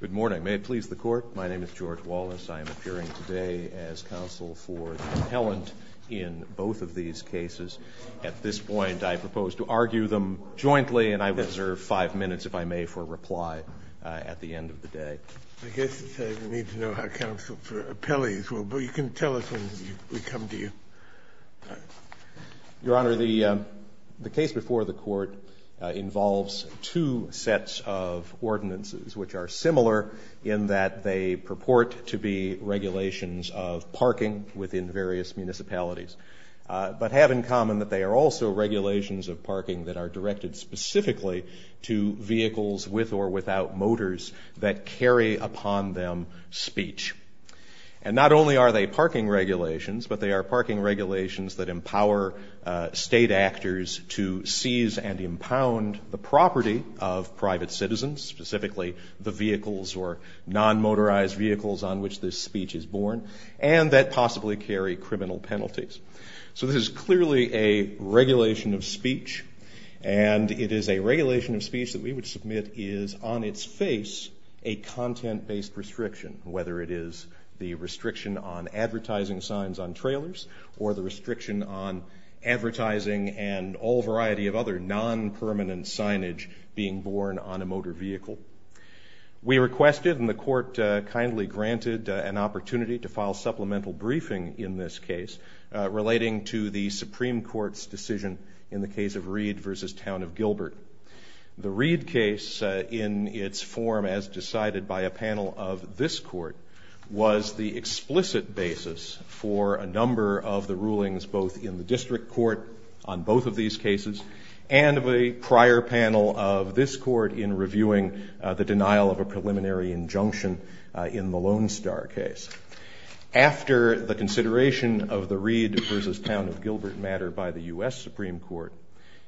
Good morning. May it please the court, my name is George Wallace. I am appearing today as counsel for the appellant in both of these cases. At this point, I propose to argue them jointly and I reserve five minutes, if I may, for reply at the end of the day. I guess it's a need to know how counsel for appellees will, but you can tell us when we come to you. Your Honor, the case before the court involves two sets of ordinances which are similar in that they purport to be regulations of parking within various municipalities, but have in common that they are also regulations of parking that are directed specifically to vehicles with or without motors that carry upon them speech. And not only are they parking regulations, but they are parking regulations that empower state actors to seize and impound the property of private citizens, specifically the vehicles or non-motorized vehicles on which this speech is born, and that possibly carry criminal penalties. So this is clearly a regulation of speech, and it is a regulation of speech that we would submit is on its face a content-based restriction, whether it is the restriction on advertising signs on trailers or the restriction on advertising and all variety of other non-permanent signage being born on a motor vehicle. We requested, and the court kindly granted, an opportunity to file supplemental briefing in this case relating to the Supreme Court's decision in the case of Reed v. Town of Gilbert. The Reed case, in its form as decided by a panel of this court, was the explicit basis for a number of the rulings both in the district court on both of these cases and of a prior panel of this court in reviewing the denial of a preliminary injunction in the Lone Star case. After the consideration of the Reed v. Town of Gilbert matter by the U.S. Supreme Court,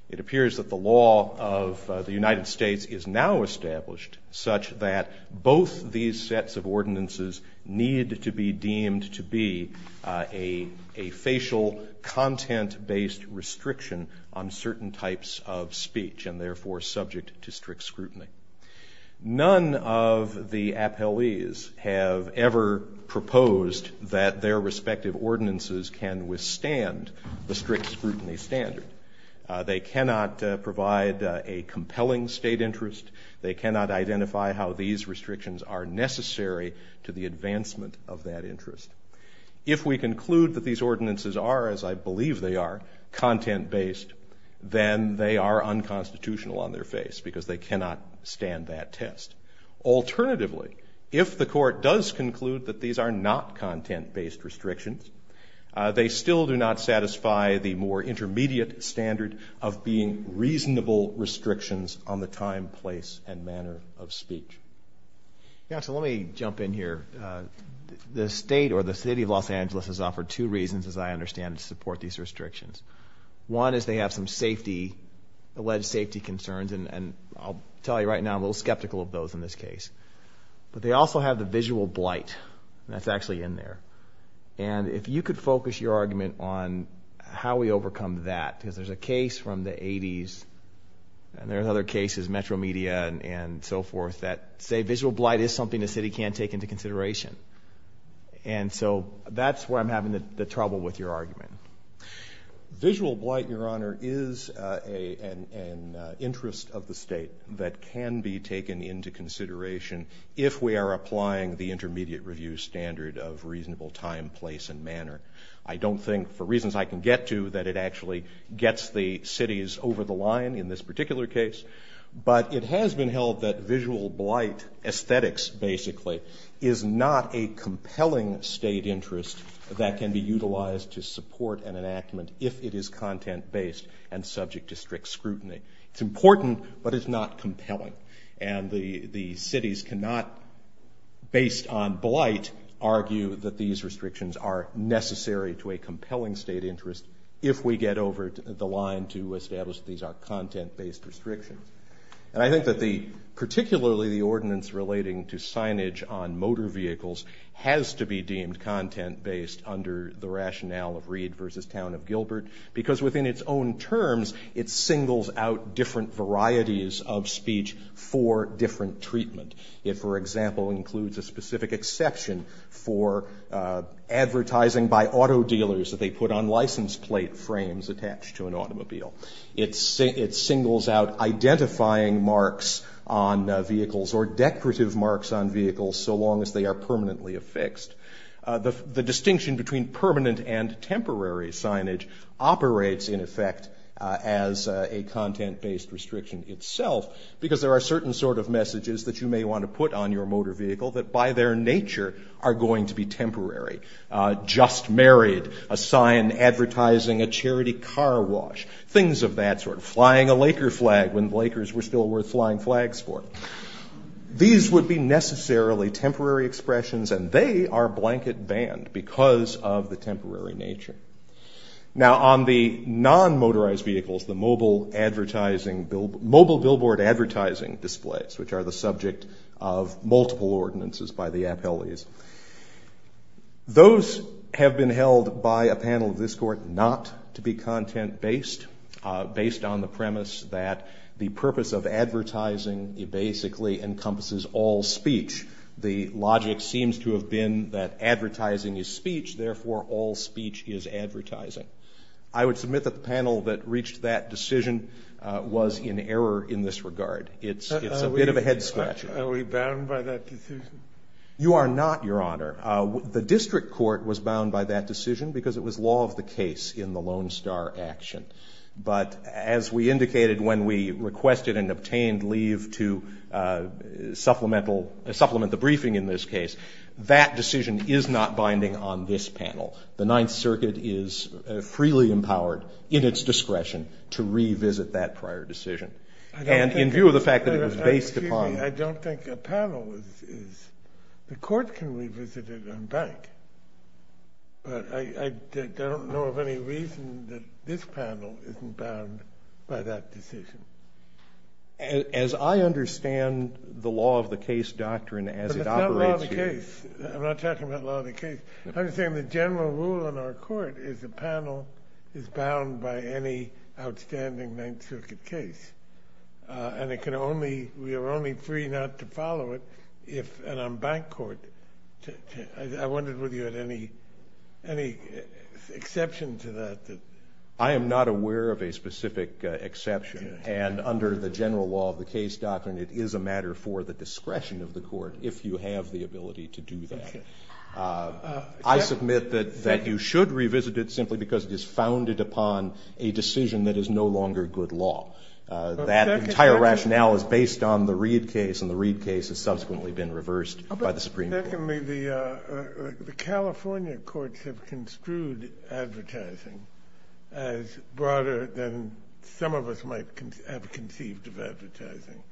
it appears that the law of the United States is now established such that both these sets of ordinances need to be deemed to be a facial content-based restriction on certain types of speech and therefore subject to strict scrutiny. None of the appellees have ever proposed that their respective ordinances can withstand the strict scrutiny standard. They cannot provide a compelling state interest. They cannot identify how these restrictions are necessary to the advancement of that interest. If we conclude that these ordinances are, as I believe they are, content-based, then they are unconstitutional on their face because they cannot stand that test. Alternatively, if the court does conclude that these are not content-based restrictions, they still do not satisfy the more intermediate standard of being reasonable restrictions on the time, place, and manner of speech. Yeah, so let me jump in here. The state or the city of Los Angeles has offered two reasons, as I understand it, to support these restrictions. One is they have some safety, alleged safety concerns, and I'll tell you right now I'm a little skeptical of those in this case. But they also have the visual blight, and that's actually in there. And if you could focus your argument on how we overcome that, because there's a case from the 80s, and there's other cases, Metro Media and so forth, that say visual blight is something the city can take into consideration. And so that's where I'm having the trouble with your argument. Visual blight, Your Honor, is an interest of the state that can be taken into consideration if we are applying the intermediate review standard of reasonable time, place, and manner. I don't think, for reasons I can get to, that it actually gets the cities over the line in this particular case. But it has been held that visual blight, aesthetics basically, is not a compelling state interest that can be utilized to support an enactment if it is content-based and subject to strict scrutiny. It's important, but it's not compelling. And the cities cannot, based on blight, argue that these restrictions are necessary to a content-based restriction. And I think that particularly the ordinance relating to signage on motor vehicles has to be deemed content-based under the rationale of Reed v. Town of Gilbert, because within its own terms, it singles out different varieties of speech for different treatment. It, for example, includes a specific exception for advertising by auto dealers that they put on license plate frames attached to an automobile. It singles out identifying marks on vehicles or decorative marks on vehicles so long as they are permanently affixed. The distinction between permanent and temporary signage operates, in effect, as a content-based restriction itself, because there are certain sort of messages that you may want to put on your motor vehicle that, by their nature, are going to be temporary. Just married, a sign advertising a charity car wash, things of that sort. Flying a Laker flag when Lakers were still worth flying flags for. These would be necessarily temporary expressions and they are blanket banned because of the temporary nature. Now, on the non-motorized vehicles, the mobile billboard advertising displays, which are the subject of multiple ordinances by the appellees. Those have been held by a panel of this court not to be content-based, based on the premise that the purpose of advertising basically encompasses all speech. The logic seems to have been that advertising is speech, therefore all speech is advertising. I would submit that the panel that reached that decision was in error in this regard. It's a bit of a head-scratcher. Are we bound by that decision? You are not, Your Honor. The district court was bound by that decision because it was law of the case in the Lone Star action. But as we indicated when we requested and obtained leave to supplement the briefing in this case, that decision is not binding on this panel. The Ninth Circuit is freely empowered, in its discretion, to revisit that prior decision. In view of the fact that it was based upon... I don't think a panel is. The court can revisit it on bank. But I don't know of any reason that this panel isn't bound by that decision. As I understand the law of the case doctrine as it operates here... I'm not talking about law of the case. I'm saying the general rule in our court is a panel is bound by any outstanding Ninth Circuit case. And we are only free not to follow it if... and on bank court. I wondered whether you had any exception to that. I am not aware of a specific exception. And under the general law of the case doctrine, it is a matter for the discretion of the court if you have the ability to do that. I submit that you should revisit it simply because it is founded upon a decision that is no longer good law. That entire rationale is based on the Reid case, and the Reid case has subsequently been reversed by the Supreme Court. Secondly, the California courts have construed advertising as broader than some of us might have conceived of advertising.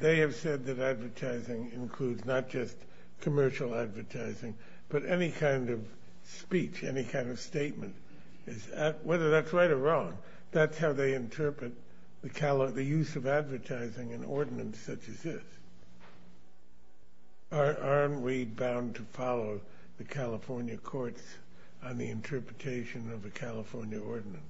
They have said that advertising includes not just commercial advertising, but any kind of speech, any kind of statement. Whether that's right or wrong, that's how they interpret the use of advertising in ordinance such as this. Aren't we bound to follow the California courts on the interpretation of a California ordinance?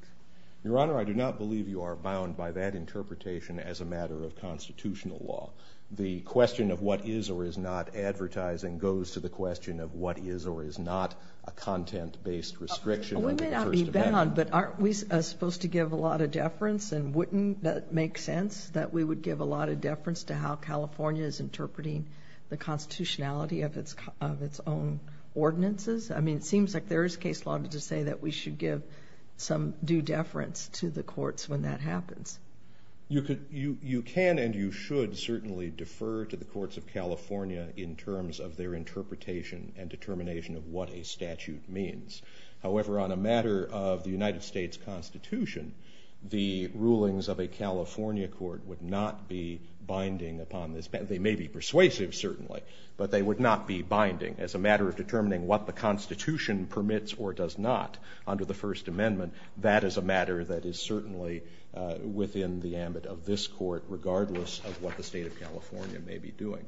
Your Honor, I do not believe you are bound by that interpretation as a matter of constitutional law. The question of what is or is not advertising goes to the question of what is or is not a content-based restriction. We may not be bound, but aren't we supposed to give a lot of deference? And wouldn't that make sense, that we would give a lot of deference to how California is interpreting the constitutionality of its own ordinances? I mean, it seems like there is case law to say that we should give some due deference to the courts when that happens. You can and you should certainly defer to the courts of California in terms of their interpretation and determination of what a statute means. However, on a matter of the United States Constitution, the rulings of a California court would not be binding upon this. They may be persuasive, certainly, but they would not be binding as a matter of determining what the Constitution permits or does not under the First Amendment. That is a matter that is certainly within the ambit of this Court, regardless of what the State of California may be doing.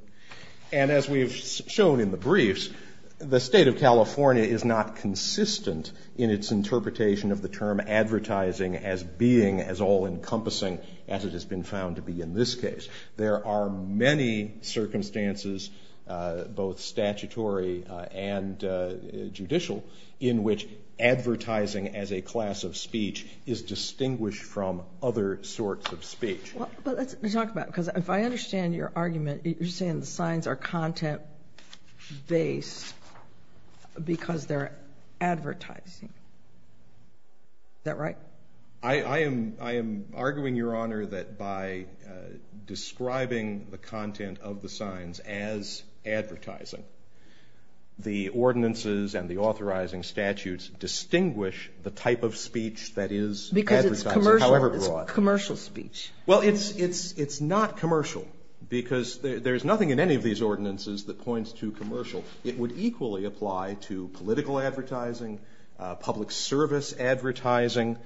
And as we have shown in the briefs, the State of California is not consistent in its interpretation of the term advertising as being as all-encompassing as it has been found to be in this case. There are many circumstances, both statutory and judicial, in which advertising as a class of speech is distinguished from other sorts of speech. But let's talk about it, because if I understand your argument, you're saying the signs are content-based because they're advertising. Is that right? I am arguing, Your Honor, that by describing the content of the signs as advertising, the ordinances and the authorizing statutes distinguish the type of speech that is advertising, however broad. Because it's commercial speech. Well, it's not commercial, because there's nothing in any of these ordinances that points to commercial. It would equally apply to political advertising, public service advertising.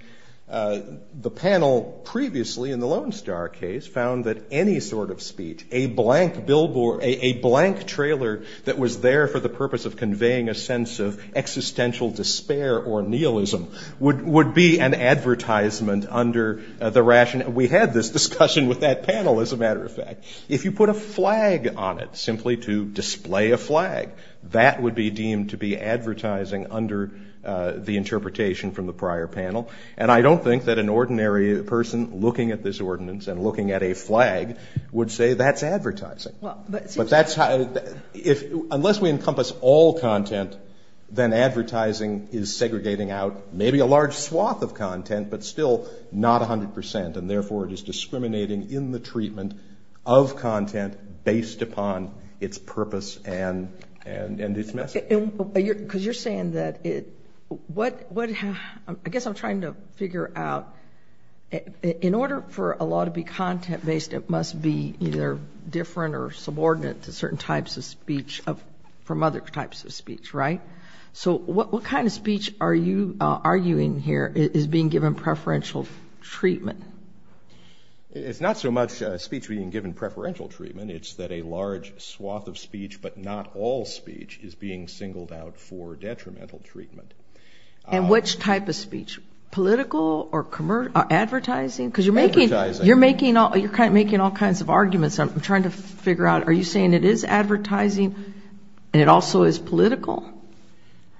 The panel previously, in the Lone Star case, found that any sort of speech, a blank trailer that was there for the purpose of conveying a sense of existential despair or nihilism, would be an advertisement under the rationale. We had this discussion with that panel, as a matter of fact. If you put a flag on it, simply to display a flag, that would be deemed to be advertising under the interpretation from the prior panel. And I don't think that an ordinary person looking at this ordinance and looking at a flag would say that's advertising. But that's how, unless we encompass all content, then advertising is segregating out maybe a large swath of content, but still not 100 percent. And therefore, it is discriminating in the treatment of content based upon its purpose and its message. Because you're saying that it... I guess I'm trying to figure out, in order for a law to be content-based, it must be either different or subordinate to certain types of speech from other types of speech, right? So what kind of speech are you arguing here is being given preferential treatment? It's not so much speech being given preferential treatment. It's that a large swath of speech, but not all speech, is being singled out for detrimental treatment. And which type of speech? Political or advertising? Because you're making all kinds of arguments. I'm trying to figure out, are you saying it is advertising and it also is political?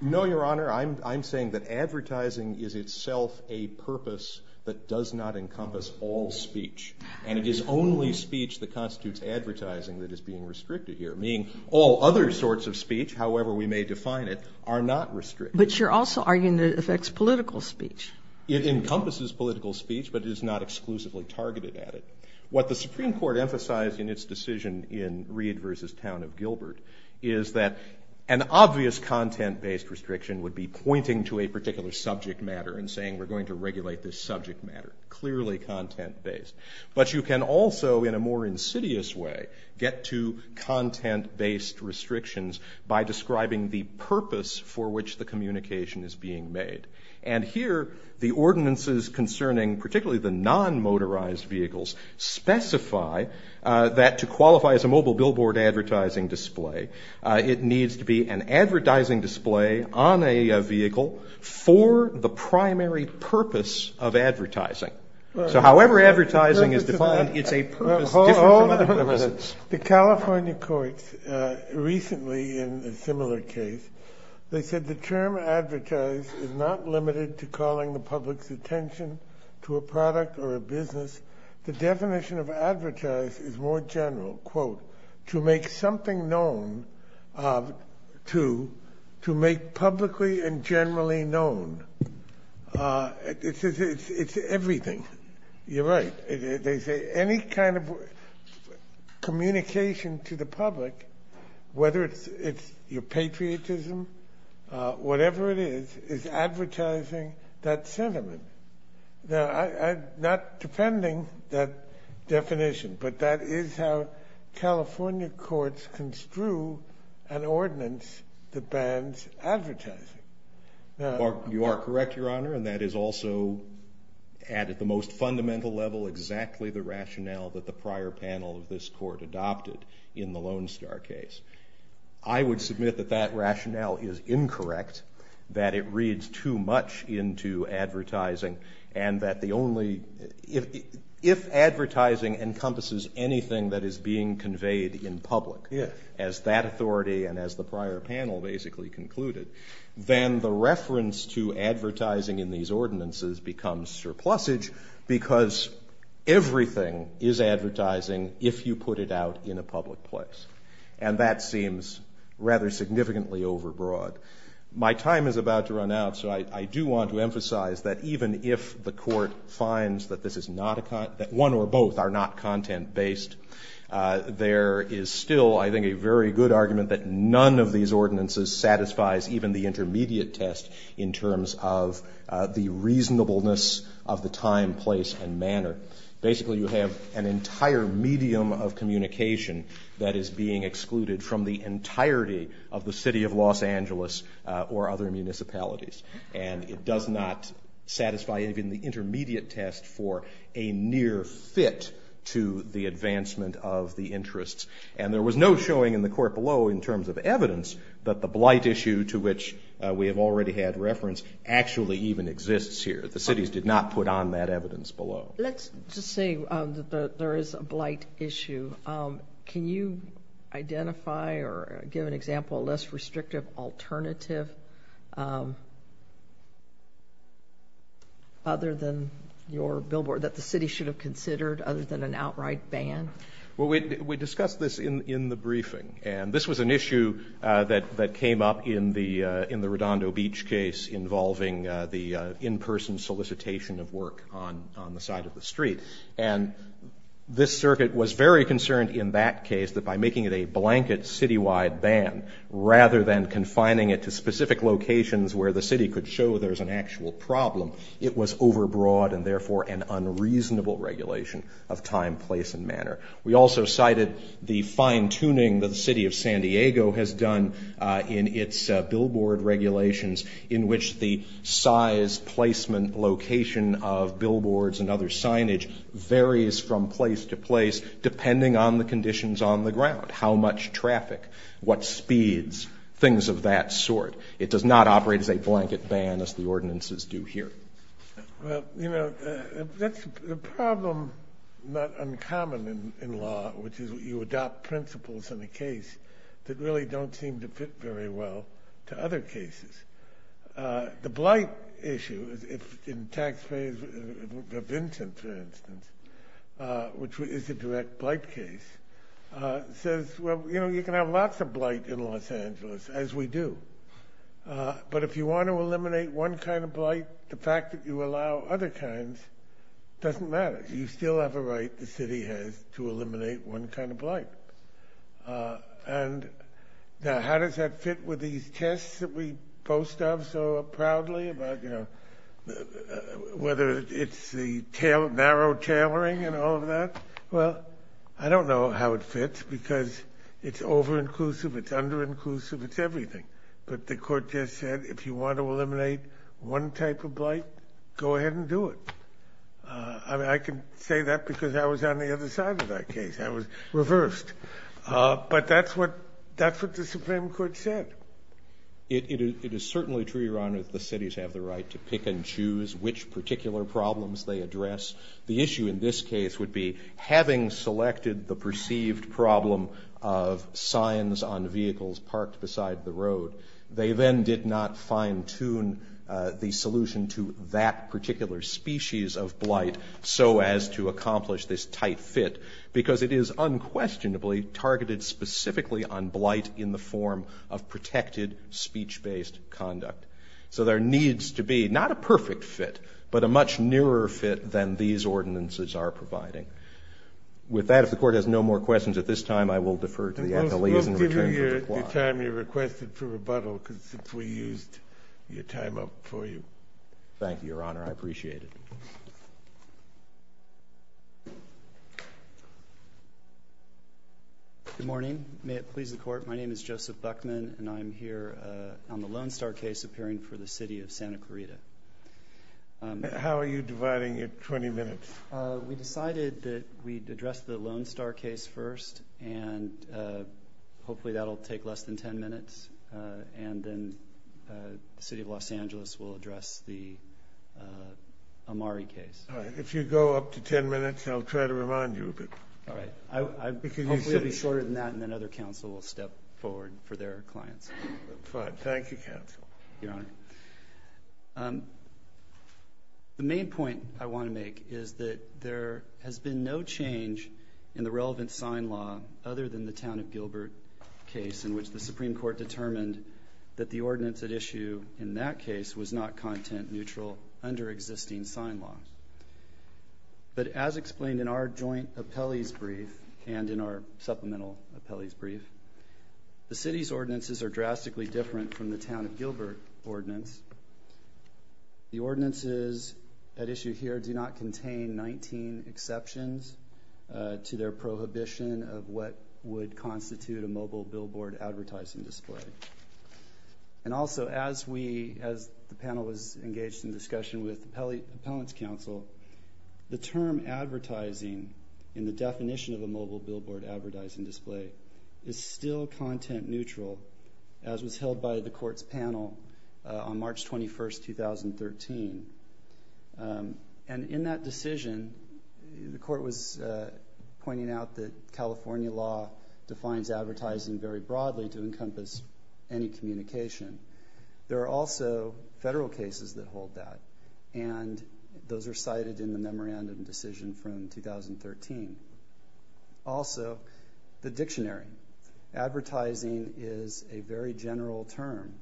No, Your Honor. I'm saying that advertising is itself a purpose that does not encompass all speech. And it is only speech that constitutes advertising that is being restricted here. Meaning all other sorts of speech, however we may define it, are not restricted. But you're also arguing that it affects political speech. It encompasses political speech, but it is not exclusively targeted at it. What the Supreme Court says is that this content-based restriction would be pointing to a particular subject matter and saying we're going to regulate this subject matter. Clearly content-based. But you can also, in a more insidious way, get to content-based restrictions by describing the purpose for which the communication is being made. And here, the ordinances concerning particularly the non-motorized vehicles specify that to on a vehicle for the primary purpose of advertising. So however advertising is defined, it's a purpose different from other purposes. The California courts recently, in a similar case, they said the term advertise is not limited to calling the public's attention to a product or a business. The definition of advertise is more general. Quote, to make something known, to make publicly and generally known. It's everything. You're right. They say any kind of communication to the public, whether it's your patriotism, whatever it is, is advertising that sentiment. Now I'm not defending that definition, but that is how California courts construe an ordinance that bans advertising. You are correct, Your Honor, and that is also, at the most fundamental level, exactly the rationale that the prior panel of this court adopted in the Lone Star case. I would submit that that rationale is incorrect, that it reads too much into advertising, and that the only, if advertising encompasses anything that is being conveyed in public as that authority and as the prior panel basically concluded, then the reference to advertising in these ordinances becomes surplusage because everything is advertising if you put it out in a public place. And that seems rather significantly overbroad. My time is about to run out, so I do want to emphasize that even if the court finds that this is not a, that one or both are not content-based, there is still, I think, a very good argument that none of these ordinances satisfies even the intermediate test in terms of the reasonableness of the time, place, and manner. Basically, you have an entire medium of communication that is being excluded from the entirety of the city of Los Angeles or other municipalities. And it does not satisfy even the intermediate test for a near fit to the advancement of the interests. And there was no showing in the court below in terms of evidence that the blight issue to which we have already had reference actually even exists here. The cities did not put on that evidence below. Let's just say that there is a blight issue. Can you identify or give an example of a less restrictive alternative other than your billboard that the city should have considered other than an outright ban? We discussed this in the briefing. And this was an issue that came up in the Redondo Beach case involving the in-person solicitation of work on the side of the street. And this circuit was very concerned in that case that by making it a blanket citywide ban rather than confining it to specific locations where the city could show there is an actual problem, it was overbroad and therefore an unreasonable regulation of time, place, and manner. We also cited the fine-tuning that the city of San Diego has done in its billboard regulations in which the size, placement, location of billboards and other signage varies from place to place depending on the conditions on the ground, how much traffic, what speeds, things of that sort. It does not operate as a blanket ban as the ordinances do here. Well, you know, that's a problem not uncommon in law, which is you adopt principles in a lot of cases. The blight issue, if taxpayers, Vincent, for instance, which is a direct blight case, says, well, you know, you can have lots of blight in Los Angeles, as we do. But if you want to eliminate one kind of blight, the fact that you allow other kinds doesn't matter. You still have a right, the city has, to eliminate one kind of blight. Now, how does that fit with these tests that we boast of so proudly about, you know, whether it's the narrow tailoring and all of that? Well, I don't know how it fits because it's over-inclusive, it's under-inclusive, it's everything. But the court just said, if you want to eliminate one type of blight, go ahead and do it. I mean, I can say that because I was on the other side of that case. I was reversed. But that's what the Supreme Court said. It is certainly true, Your Honor, that the cities have the right to pick and choose which particular problems they address. The issue in this case would be, having selected the perceived problem of signs on vehicles parked beside the road, they then did not fine-tune the solution to that particular species of blight so as to accomplish this tight fit, because it is unquestionably targeted specifically on blight in the form of protected speech-based conduct. So there needs to be not a perfect fit, but a much nearer fit than these ordinances are providing. With that, if the Court has no more questions at this time, I will defer to the time you requested for rebuttal, because we used your time up for you. Thank you, Your Honor. I appreciate it. Good morning. May it please the Court, my name is Joseph Buckman, and I'm here on the Lone Star case appearing for the City of Santa Clarita. How are you dividing your 20 minutes? We decided that we'd address the Lone Star case first, and hopefully that'll take less than 10 minutes, and then the City of Los Angeles will address the Amari case. If you go up to 10 minutes, I'll try to remind you of it. All right. Hopefully it'll be shorter than that, and then other counsel will step forward for their clients. Fine. Thank you, counsel. Thank you, Your Honor. The main point I want to make is that there has been no change in the relevant sign law other than the Town of Gilbert case, in which the Supreme Court determined that the ordinance at issue in that case was not content-neutral under existing sign law. But as explained in our joint appellee's brief and in our supplemental appellee's brief, the City's ordinances are drastically different from the Town of Gilbert ordinance. The ordinances at issue here do not contain 19 exceptions to their prohibition of what would constitute a mobile billboard advertising display. And also, as the panel was engaged in discussion with the appellant's counsel, the term advertising in the definition of a mobile billboard advertising display is still content-neutral, as was held by the Court's panel on March 21, 2013. And in that decision, the Court was pointing out that California law defines advertising very broadly to encompass any communication. There are also federal cases that hold that, and those are cited in the memorandum decision from 2013. Also, the dictionary. Advertising is a very general term,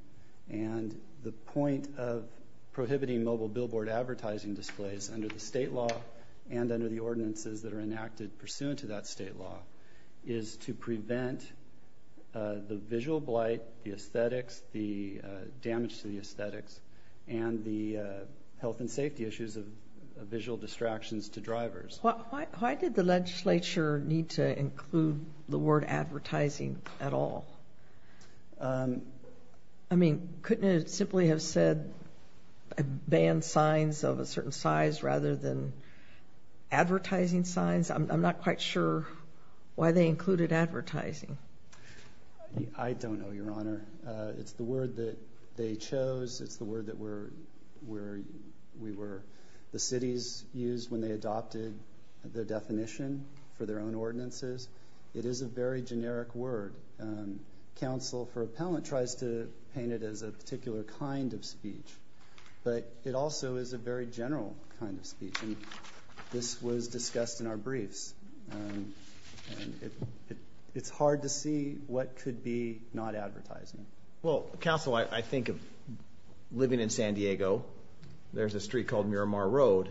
and the point of prohibiting mobile billboard advertising displays under the state law and under the ordinances that are enacted pursuant to that state law is to prevent the visual blight, the aesthetics, the damage to the aesthetics, and the health and safety issues of visual distractions to drivers. Why did the legislature need to include the word advertising at all? I mean, couldn't it simply have said ban signs of a certain size rather than advertising signs? I'm not quite sure why they included advertising. I don't know, Your Honor. It's the word that they chose. It's the word that we were, the cities, used when they adopted the definition for their own ordinances. It is a very generic word. Council for Appellant tries to paint it as a particular kind of speech, but it also is a very general kind of speech, and this was discussed in our briefs. It's hard to see what could be not advertising. Well, counsel, I think of living in San Diego. There's a street called Miramar Road,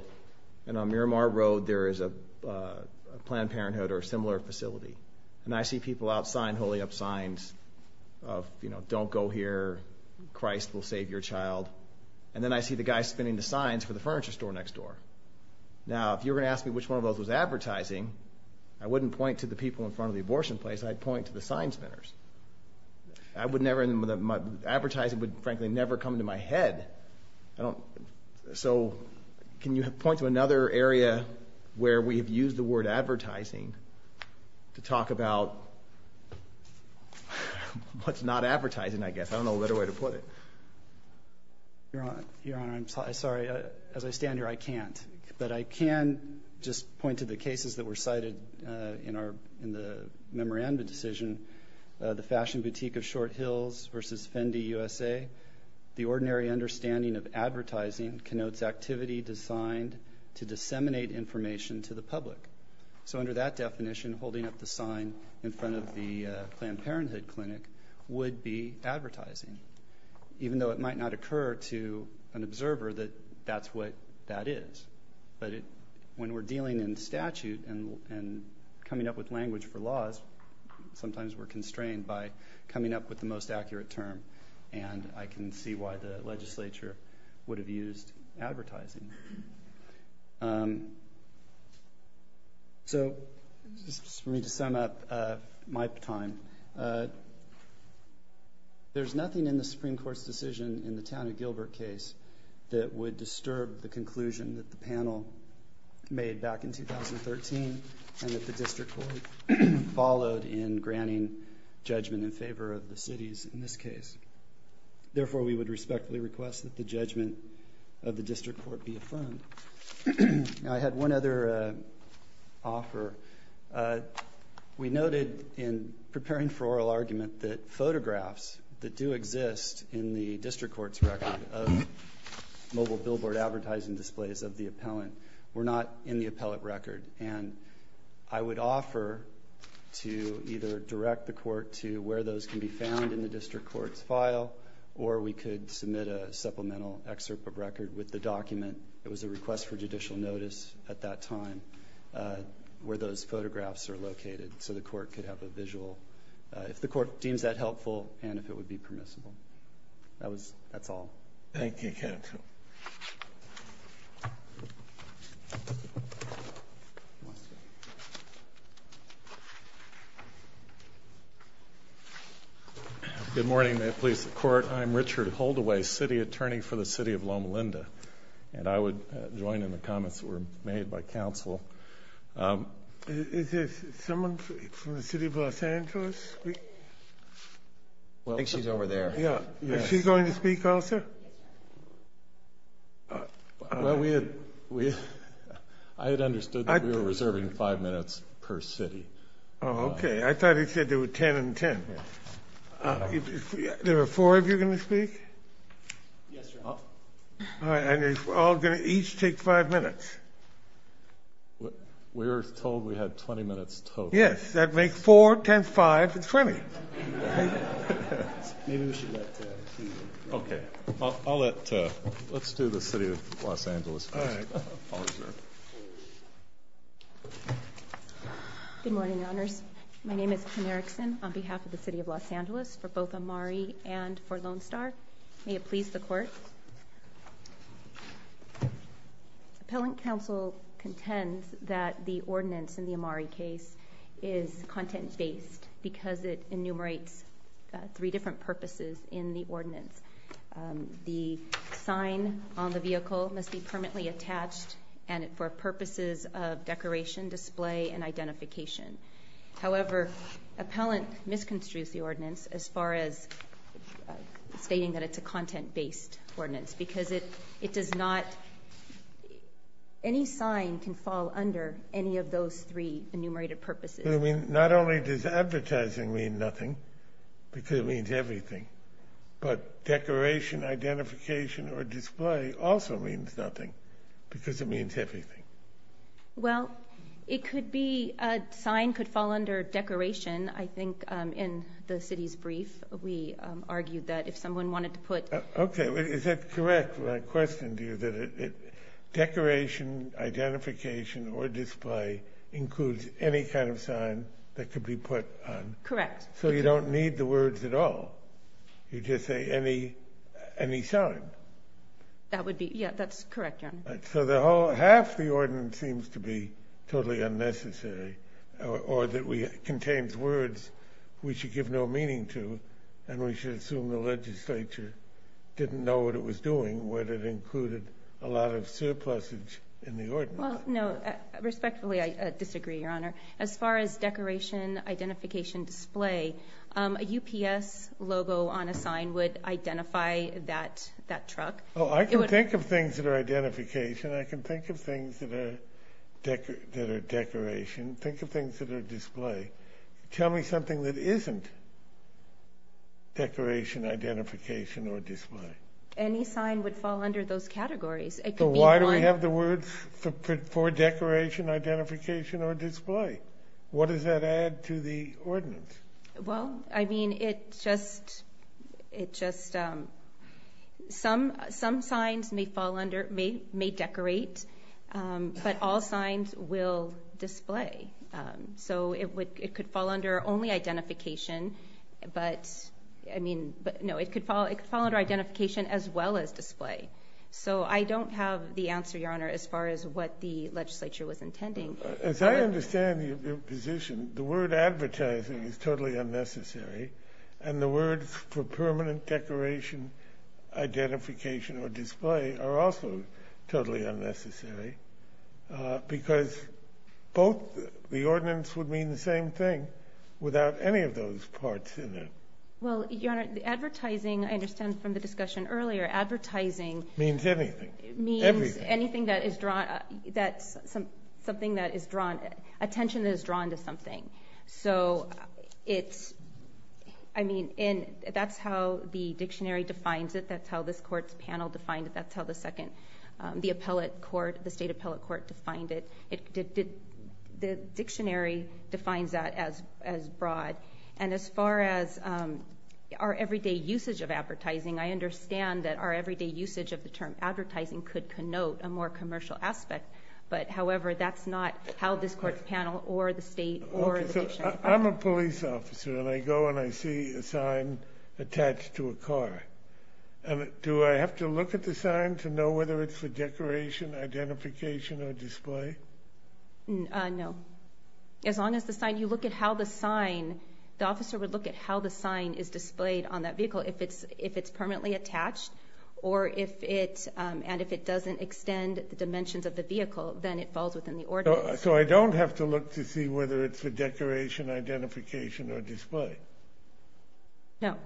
and on Miramar Road there is a Planned Parenthood or a similar facility, and I see people out sign holding up signs of, you know, don't go here, Christ will save your child, and then I see the guy spinning the signs for the furniture store next door. Now, if you were going to ask me which one of those was advertising, I wouldn't point to the people in front of the abortion place. I'd point to the sign spinners. I would never, advertising would frankly never come to my head. So, can you point to another area where we have used the word advertising to talk about what's not advertising, I guess. I don't know what other way to put it. Your Honor, I'm sorry. As I stand here, I can't, but I can just point to the cases that are in the memorandum decision, the fashion boutique of Short Hills versus Fendi USA. The ordinary understanding of advertising connotes activity designed to disseminate information to the public. So under that definition, holding up the sign in front of the Planned Parenthood clinic would be advertising, even though it might not occur to an observer that that's what that is. But when we're dealing in statute and coming up with language for laws, sometimes we're constrained by coming up with the most accurate term and I can see why the legislature would have used advertising. So, just for me to sum up my time, there's nothing in the Supreme Court's decision in the Town of Gilbert case that would disturb the conclusion that the panel made back in 2013 and that the District Court followed in granting judgment in favor of the cities in this case. Therefore, we would respectfully request that the judgment of the District Court be affirmed. I had one other offer. We noted in preparing for oral argument that photographs that do exist in the District Court's record of mobile billboard advertising displays of the appellant were not in the appellate record. And I would offer to either direct the court to where those can be found in the District Court's file or we could submit a supplemental excerpt of record with the document. It was a request for judicial notice at that time where those photographs are located so the court could have a visual, if the court deems that helpful and if it would be permissible. That's all. Thank you, counsel. Good morning. May it please the Court. I'm Richard Holdaway, City Attorney for the City of Loma Linda. And I would join in the comments that were made by counsel. Is there someone from the City of Los Angeles? I think she's over there. Is she going to speak also? I had understood that we were reserving five minutes per city. Oh, okay. I thought he said there were ten and ten. Yes, Your Honor. And it's all going to each take five minutes. We were told we had twenty minutes total. Yes, that makes four, ten, five, and twenty. Okay. Let's do the City of Los Angeles first. Good morning, Your Honors. My name is Kim Erickson on behalf of the City of Los Angeles for both Amari and for Lone Star. May it please the Court. Appellant counsel contends that the ordinance in the Amari case is content-based because it enumerates three different purposes in the ordinance. The sign on the vehicle must be permanently attached for purposes of decoration, display, and identification. However, appellant misconstrues the ordinance as far as stating that it's a content-based ordinance because it does not – any sign can fall under any of those three enumerated purposes. Not only does advertising mean nothing because it means everything, but decoration, identification, or display also means nothing because it means everything. Well, it could be – a sign could fall under decoration. I think in the City's brief we argued that if someone wanted to put – Okay. Is that correct when I questioned you that decoration, identification, or display includes any kind of sign that could be put on? Correct. So you don't need the words at all? You just say any sign? That would be – yeah, that's correct, Your Honor. So the whole – half the ordinance seems to be totally unnecessary or that contains words we should give no meaning to and we should assume the legislature didn't know what it was doing, whether it included a lot of surplusage in the ordinance. Well, no. Respectfully, I disagree, Your Honor. As far as decoration, identification, display, a UPS logo on a sign would identify that truck. Oh, I can think of things that are identification. I can think of things that are decoration. Think of things that are display. Tell me something that isn't decoration, identification, or display. Any sign would fall under those categories. It could be one – So why do we have the words for decoration, identification, or display? What does that add to the ordinance? Well, I mean, it just – some signs may fall under – may decorate, but all signs will display. So it could fall under only identification, but – no, it could fall under identification as well as display. So I don't have the answer, Your Honor, as far as what the legislature was intending. As I understand your position, the word advertising is totally unnecessary and the words for permanent decoration, identification, or display are also totally unnecessary because both – the ordinance would mean the same thing without any of those parts in it. Well, Your Honor, the advertising, I understand from the discussion earlier, advertising – Means everything. Everything. Means anything that is drawn – that's something that is drawn – attention that is drawn to something. So it's – I mean, that's how the dictionary defines it. That's how this court's panel defined it. That's how the second – the appellate court, the state appellate court defined it. The dictionary defines that as broad. And as far as our everyday usage of advertising, I understand that our everyday usage of the term advertising could connote a more commercial aspect, but however, that's not how this court's panel or the state or the dictionary – No. As long as the sign – you look at how the sign – the officer would look at how the sign is displayed on that vehicle if it's permanently attached or if it – and if it doesn't extend the dimensions of the vehicle, then it falls within the ordinance. So I don't have to look to see whether it's for decoration, identification, or display? No.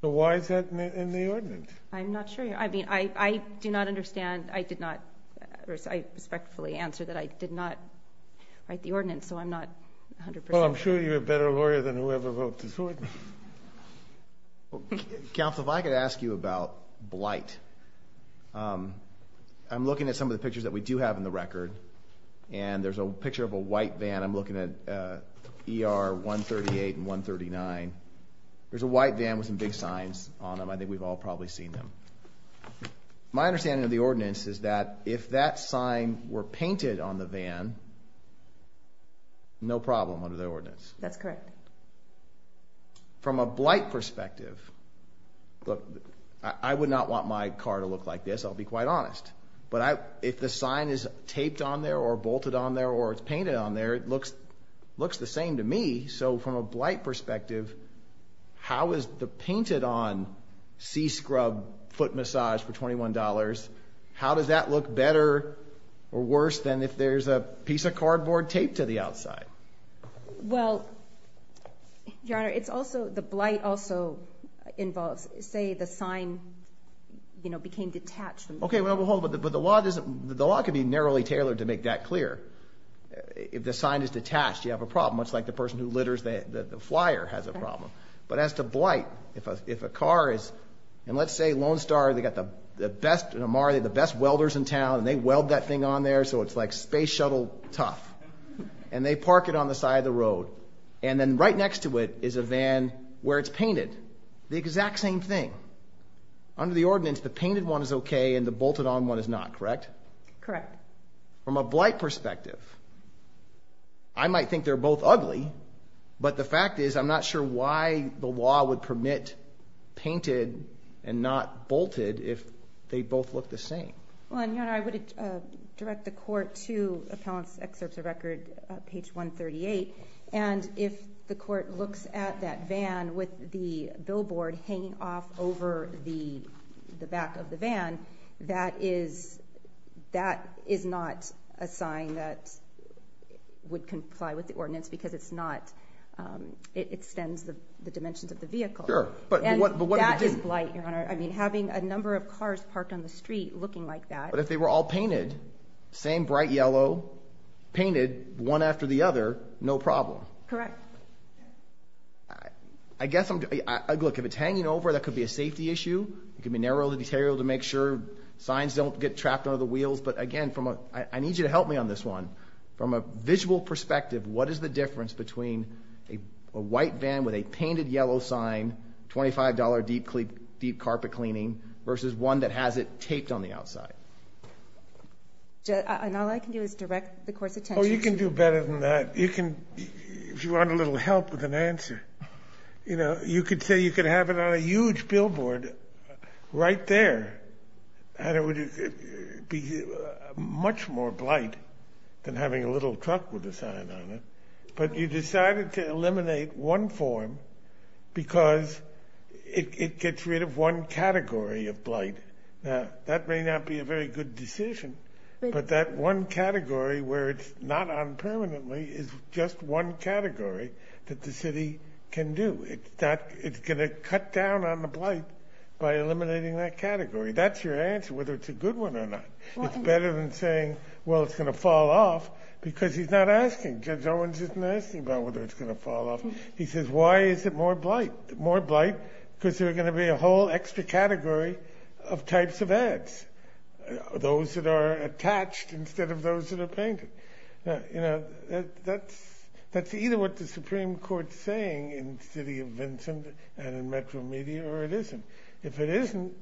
I'm not sure. I mean, I do not understand. I did not – I respectfully answer that I did not write the ordinance, so I'm not 100 percent sure. Well, I'm sure you're a better lawyer than whoever wrote this ordinance. Counsel, if I could ask you about blight, I'm looking at some of the pictures that we do have in the record, and there's a picture of a white van. I'm looking at ER 138 and 139. There's a white van with some big signs on them. I think we've all probably seen them. My understanding of the ordinance is that if that sign were painted on the van, no problem under the ordinance. That's correct. From a blight perspective – look, I would not want my car to look like this, I'll be quite honest. But if the sign is taped on there or bolted on there or it's painted on there, it looks the same to me. So from a blight perspective, how is the painted-on C-scrub foot massage for $21 – how does that look better or worse than if there's a piece of cardboard taped to the outside? Well, Your Honor, it's also – the blight also involves, say, the sign became detached. Okay, well, but the law can be narrowly tailored to make that clear. If the sign is detached, you have a problem, much like the person who litters the flyer has a problem. But as to blight, if a car is – and let's say Lone Star, they've got the best welders in town, and they weld that thing on there, so it's like space shuttle tough. And they park it on the side of the road, and then right next to it is a van where it's painted. The exact same thing. Under the ordinance, the painted one is okay and the bolted-on one is not, correct? Correct. From a blight perspective, I might think they're both ugly, but the fact is I'm not sure why the law would permit painted and not bolted if they both look the same. Well, Your Honor, I would direct the court to Appellant's Excerpts of Record, page 138. And if the court looks at that van with the billboard hanging off over the back of the van, that is not a sign that would comply with the ordinance because it's not – it extends the dimensions of the vehicle. Sure, but what – And that is blight, Your Honor. I mean, having a number of cars parked on the street looking like that. But if they were all painted, same bright yellow, painted one after the other, no problem. Correct. I guess I'm – look, if it's hanging over, that could be a safety issue. It could be narrowed and deteriorated to make sure signs don't get trapped under the wheels. But again, I need you to help me on this one. From a visual perspective, what is the difference between a white van with a painted yellow sign, $25 deep carpet cleaning, versus one that has it taped on the outside? And all I can do is direct the court's attention to that. Oh, you can do better than that. You can – if you want a little help with an answer. You know, you could say you could have it on a huge billboard right there. And it would be much more blight than having a little truck with a sign on it. But you decided to eliminate one form because it gets rid of one category of blight. Now, that may not be a very good decision. But that one category where it's not on permanently is just one category that the city can do. It's going to cut down on the blight by eliminating that category. That's your answer, whether it's a good one or not. It's better than saying, well, it's going to fall off because he's not asking. Judge Owens isn't asking about whether it's going to fall off. He says, why is it more blight? More blight because there's going to be a whole extra category of types of ads, those that are attached instead of those that are painted. You know, that's either what the Supreme Court's saying in the city of Vincent and in Metro Media, or it isn't. If it isn't,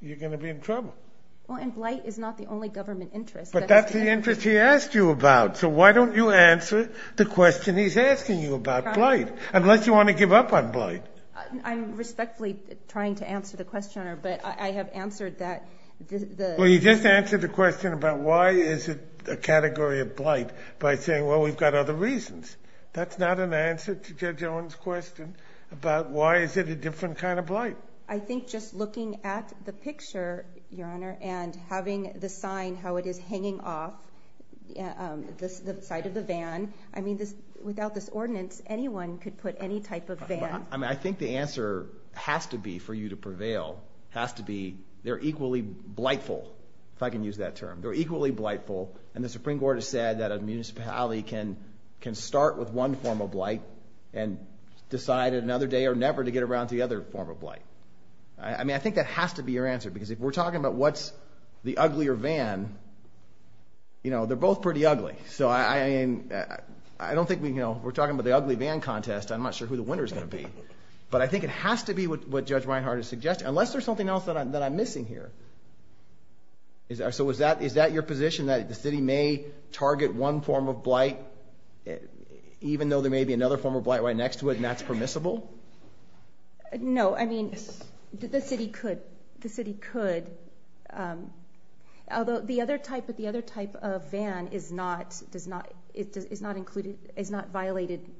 you're going to be in trouble. Well, and blight is not the only government interest. But that's the interest he asked you about. So why don't you answer the question he's asking you about, blight, unless you want to give up on blight. I'm respectfully trying to answer the question, but I have answered that. Well, you just answered the question about why is it a category of blight by saying, well, we've got other reasons. That's not an answer to Judge Owens' question about why is it a different kind of blight. Well, I think just looking at the picture, Your Honor, and having the sign how it is hanging off the side of the van, I mean, without this ordinance, anyone could put any type of van. I mean, I think the answer has to be for you to prevail, has to be they're equally blightful, if I can use that term. They're equally blightful, and the Supreme Court has said that a municipality can start with one form of blight and decide another day or never to get around to the other form of blight. I mean, I think that has to be your answer, because if we're talking about what's the uglier van, you know, they're both pretty ugly. So I don't think we're talking about the ugly van contest. I'm not sure who the winner is going to be. But I think it has to be what Judge Reinhart is suggesting, unless there's something else that I'm missing here. So is that your position, that the city may target one form of blight, even though there may be another form of blight right next to it, and that's permissible? No, I mean, the city could. The city could, although the other type of van is not violating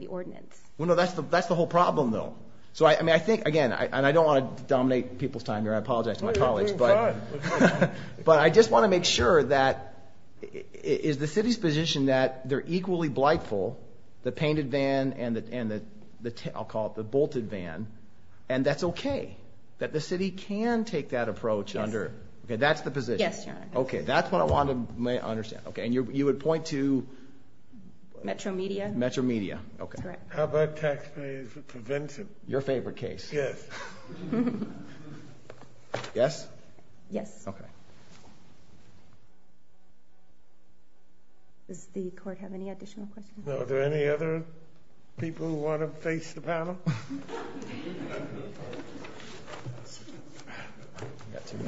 the ordinance. Well, no, that's the whole problem, though. So, I mean, I think, again, and I don't want to dominate people's time here. I apologize to my colleagues. No, you're doing fine. But I just want to make sure that is the city's position that they're equally blightful, the painted van and the I'll call it the bolted van, and that's okay, that the city can take that approach under. Yes. Okay, that's the position. Yes, Your Honor. Okay, that's what I want to understand. Okay, and you would point to? Metro Media. Metro Media, okay. That's correct. How about taxpayers for prevention? Your favorite case. Yes. Yes? Yes. Okay. Does the court have any additional questions? No, are there any other people who want to face the panel?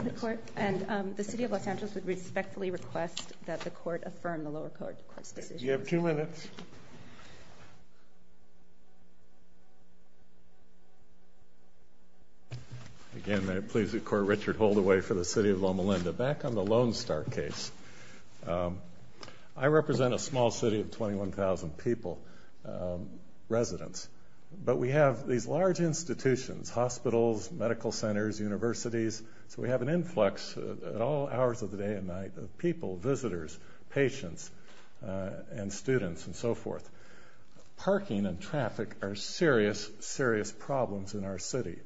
The court and the city of Los Angeles would respectfully request that the court affirm the lower court's decision. You have two minutes. Again, may it please the court, Richard Holdaway for the city of Loma Linda. Back on the Lone Star case, I represent a small city of 21,000 people, residents, but we have these large institutions, hospitals, medical centers, universities, so we have an influx at all hours of the day and night of people, visitors, patients, and students, and so forth. Parking and traffic are serious, serious problems in our city.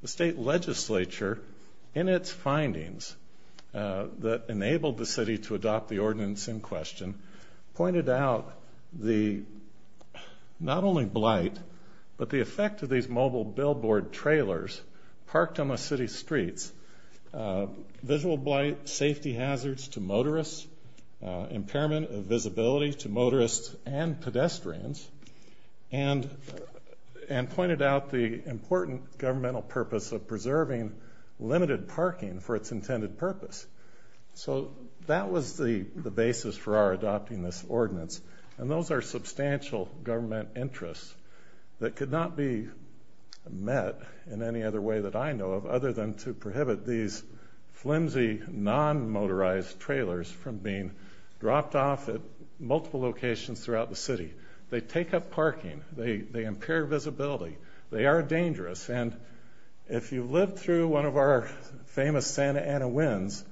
The state legislature, in its findings that enabled the city to adopt the ordinance in question, pointed out the not only blight, but the effect of these mobile billboard trailers parked on the city streets, visual blight, safety hazards to motorists, impairment of visibility to motorists and pedestrians, and pointed out the important governmental purpose of preserving limited parking for its intended purpose. So that was the basis for our adopting this ordinance, and those are substantial government interests that could not be met in any other way that I know of other than to prohibit these flimsy, non-motorized trailers from being dropped off at multiple locations throughout the city. They take up parking. They impair visibility. They are dangerous. And if you've lived through one of our famous Santa Ana winds,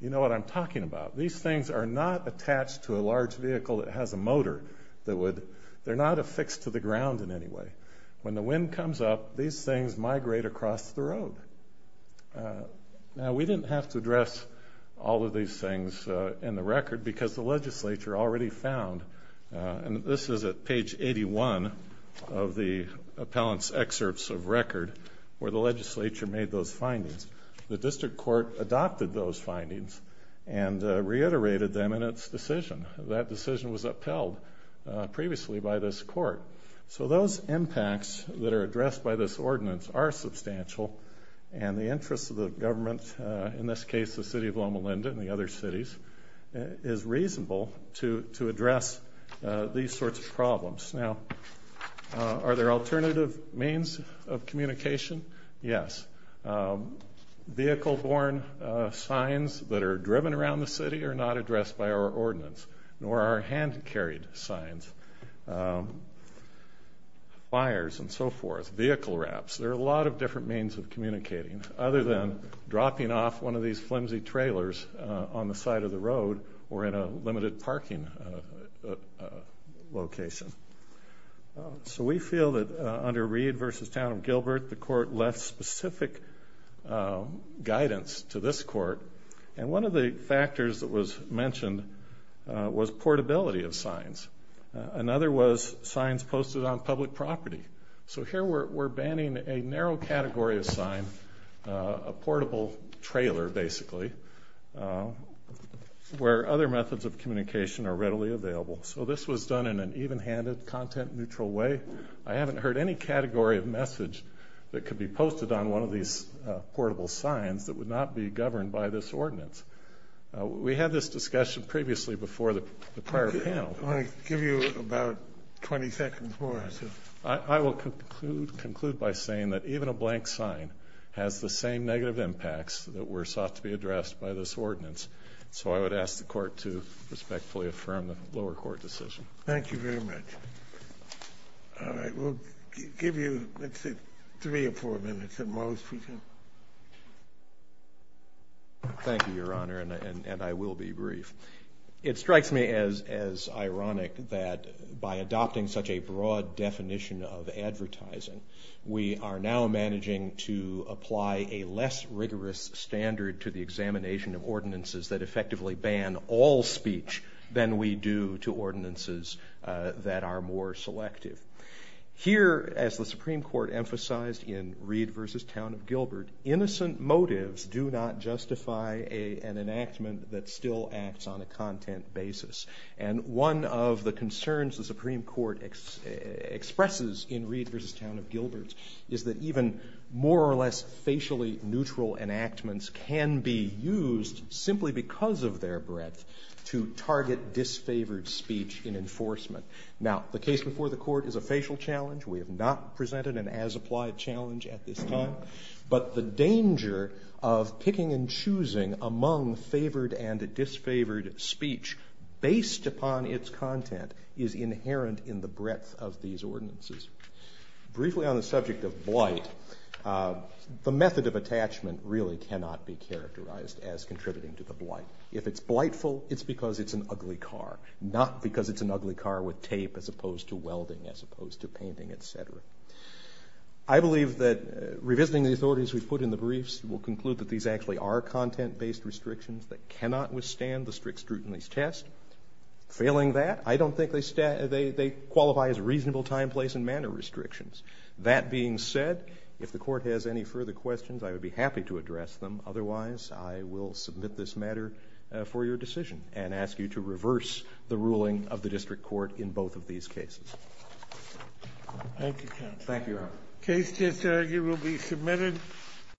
you know what I'm talking about. These things are not attached to a large vehicle that has a motor. They're not affixed to the ground in any way. When the wind comes up, these things migrate across the road. Now, we didn't have to address all of these things in the record because the legislature already found, and this is at page 81 of the appellant's excerpts of record, where the legislature made those findings. The district court adopted those findings and reiterated them in its decision. That decision was upheld previously by this court. So those impacts that are addressed by this ordinance are substantial, and the interests of the government, in this case the city of Loma Linda and the other cities, is reasonable to address these sorts of problems. Now, are there alternative means of communication? Yes. Vehicle-borne signs that are driven around the city are not addressed by our ordinance, nor are hand-carried signs. Fires and so forth, vehicle wraps, there are a lot of different means of communicating, other than dropping off one of these flimsy trailers on the side of the road or in a limited parking location. So we feel that under Reed v. Town of Gilbert, the court left specific guidance to this court, and one of the factors that was mentioned was portability of signs. Another was signs posted on public property. So here we're banning a narrow category of sign, a portable trailer, basically, where other methods of communication are readily available. So this was done in an even-handed, content-neutral way. I haven't heard any category of message that could be posted on one of these portable signs that would not be governed by this ordinance. We had this discussion previously before the prior panel. I want to give you about 20 seconds more or so. I will conclude by saying that even a blank sign has the same negative impacts that were sought to be addressed by this ordinance. So I would ask the court to respectfully affirm the lower court decision. Thank you very much. All right, we'll give you, let's see, three or four minutes at most. Thank you, Your Honor, and I will be brief. It strikes me as ironic that by adopting such a broad definition of advertising, we are now managing to apply a less rigorous standard to the examination of ordinances that effectively ban all speech than we do to ordinances that are more selective. Here, as the Supreme Court emphasized in Reed v. Town of Gilbert, innocent motives do not justify an enactment that still acts on a content basis. And one of the concerns the Supreme Court expresses in Reed v. Town of Gilbert is that even more or less facially neutral enactments can be used simply because of their breadth to target disfavored speech in enforcement. Now, the case before the court is a facial challenge. We have not presented an as-applied challenge at this time. But the danger of picking and choosing among favored and disfavored speech based upon its content is inherent in the breadth of these ordinances. Briefly on the subject of blight, the method of attachment really cannot be characterized as contributing to the blight. If it's blightful, it's because it's an ugly car, not because it's an ugly car with tape as opposed to welding, as opposed to painting, etc. I believe that revisiting the authorities we've put in the briefs will conclude that these actually are content-based restrictions that cannot withstand the strict scrutiny test. Failing that, I don't think they qualify as reasonable time, place, and manner restrictions. That being said, if the court has any further questions, I would be happy to address them. Otherwise, I will submit this matter for your decision and ask you to reverse the ruling of the district court in both of these cases. Thank you, counsel. Thank you, Your Honor. The case just argued will be submitted.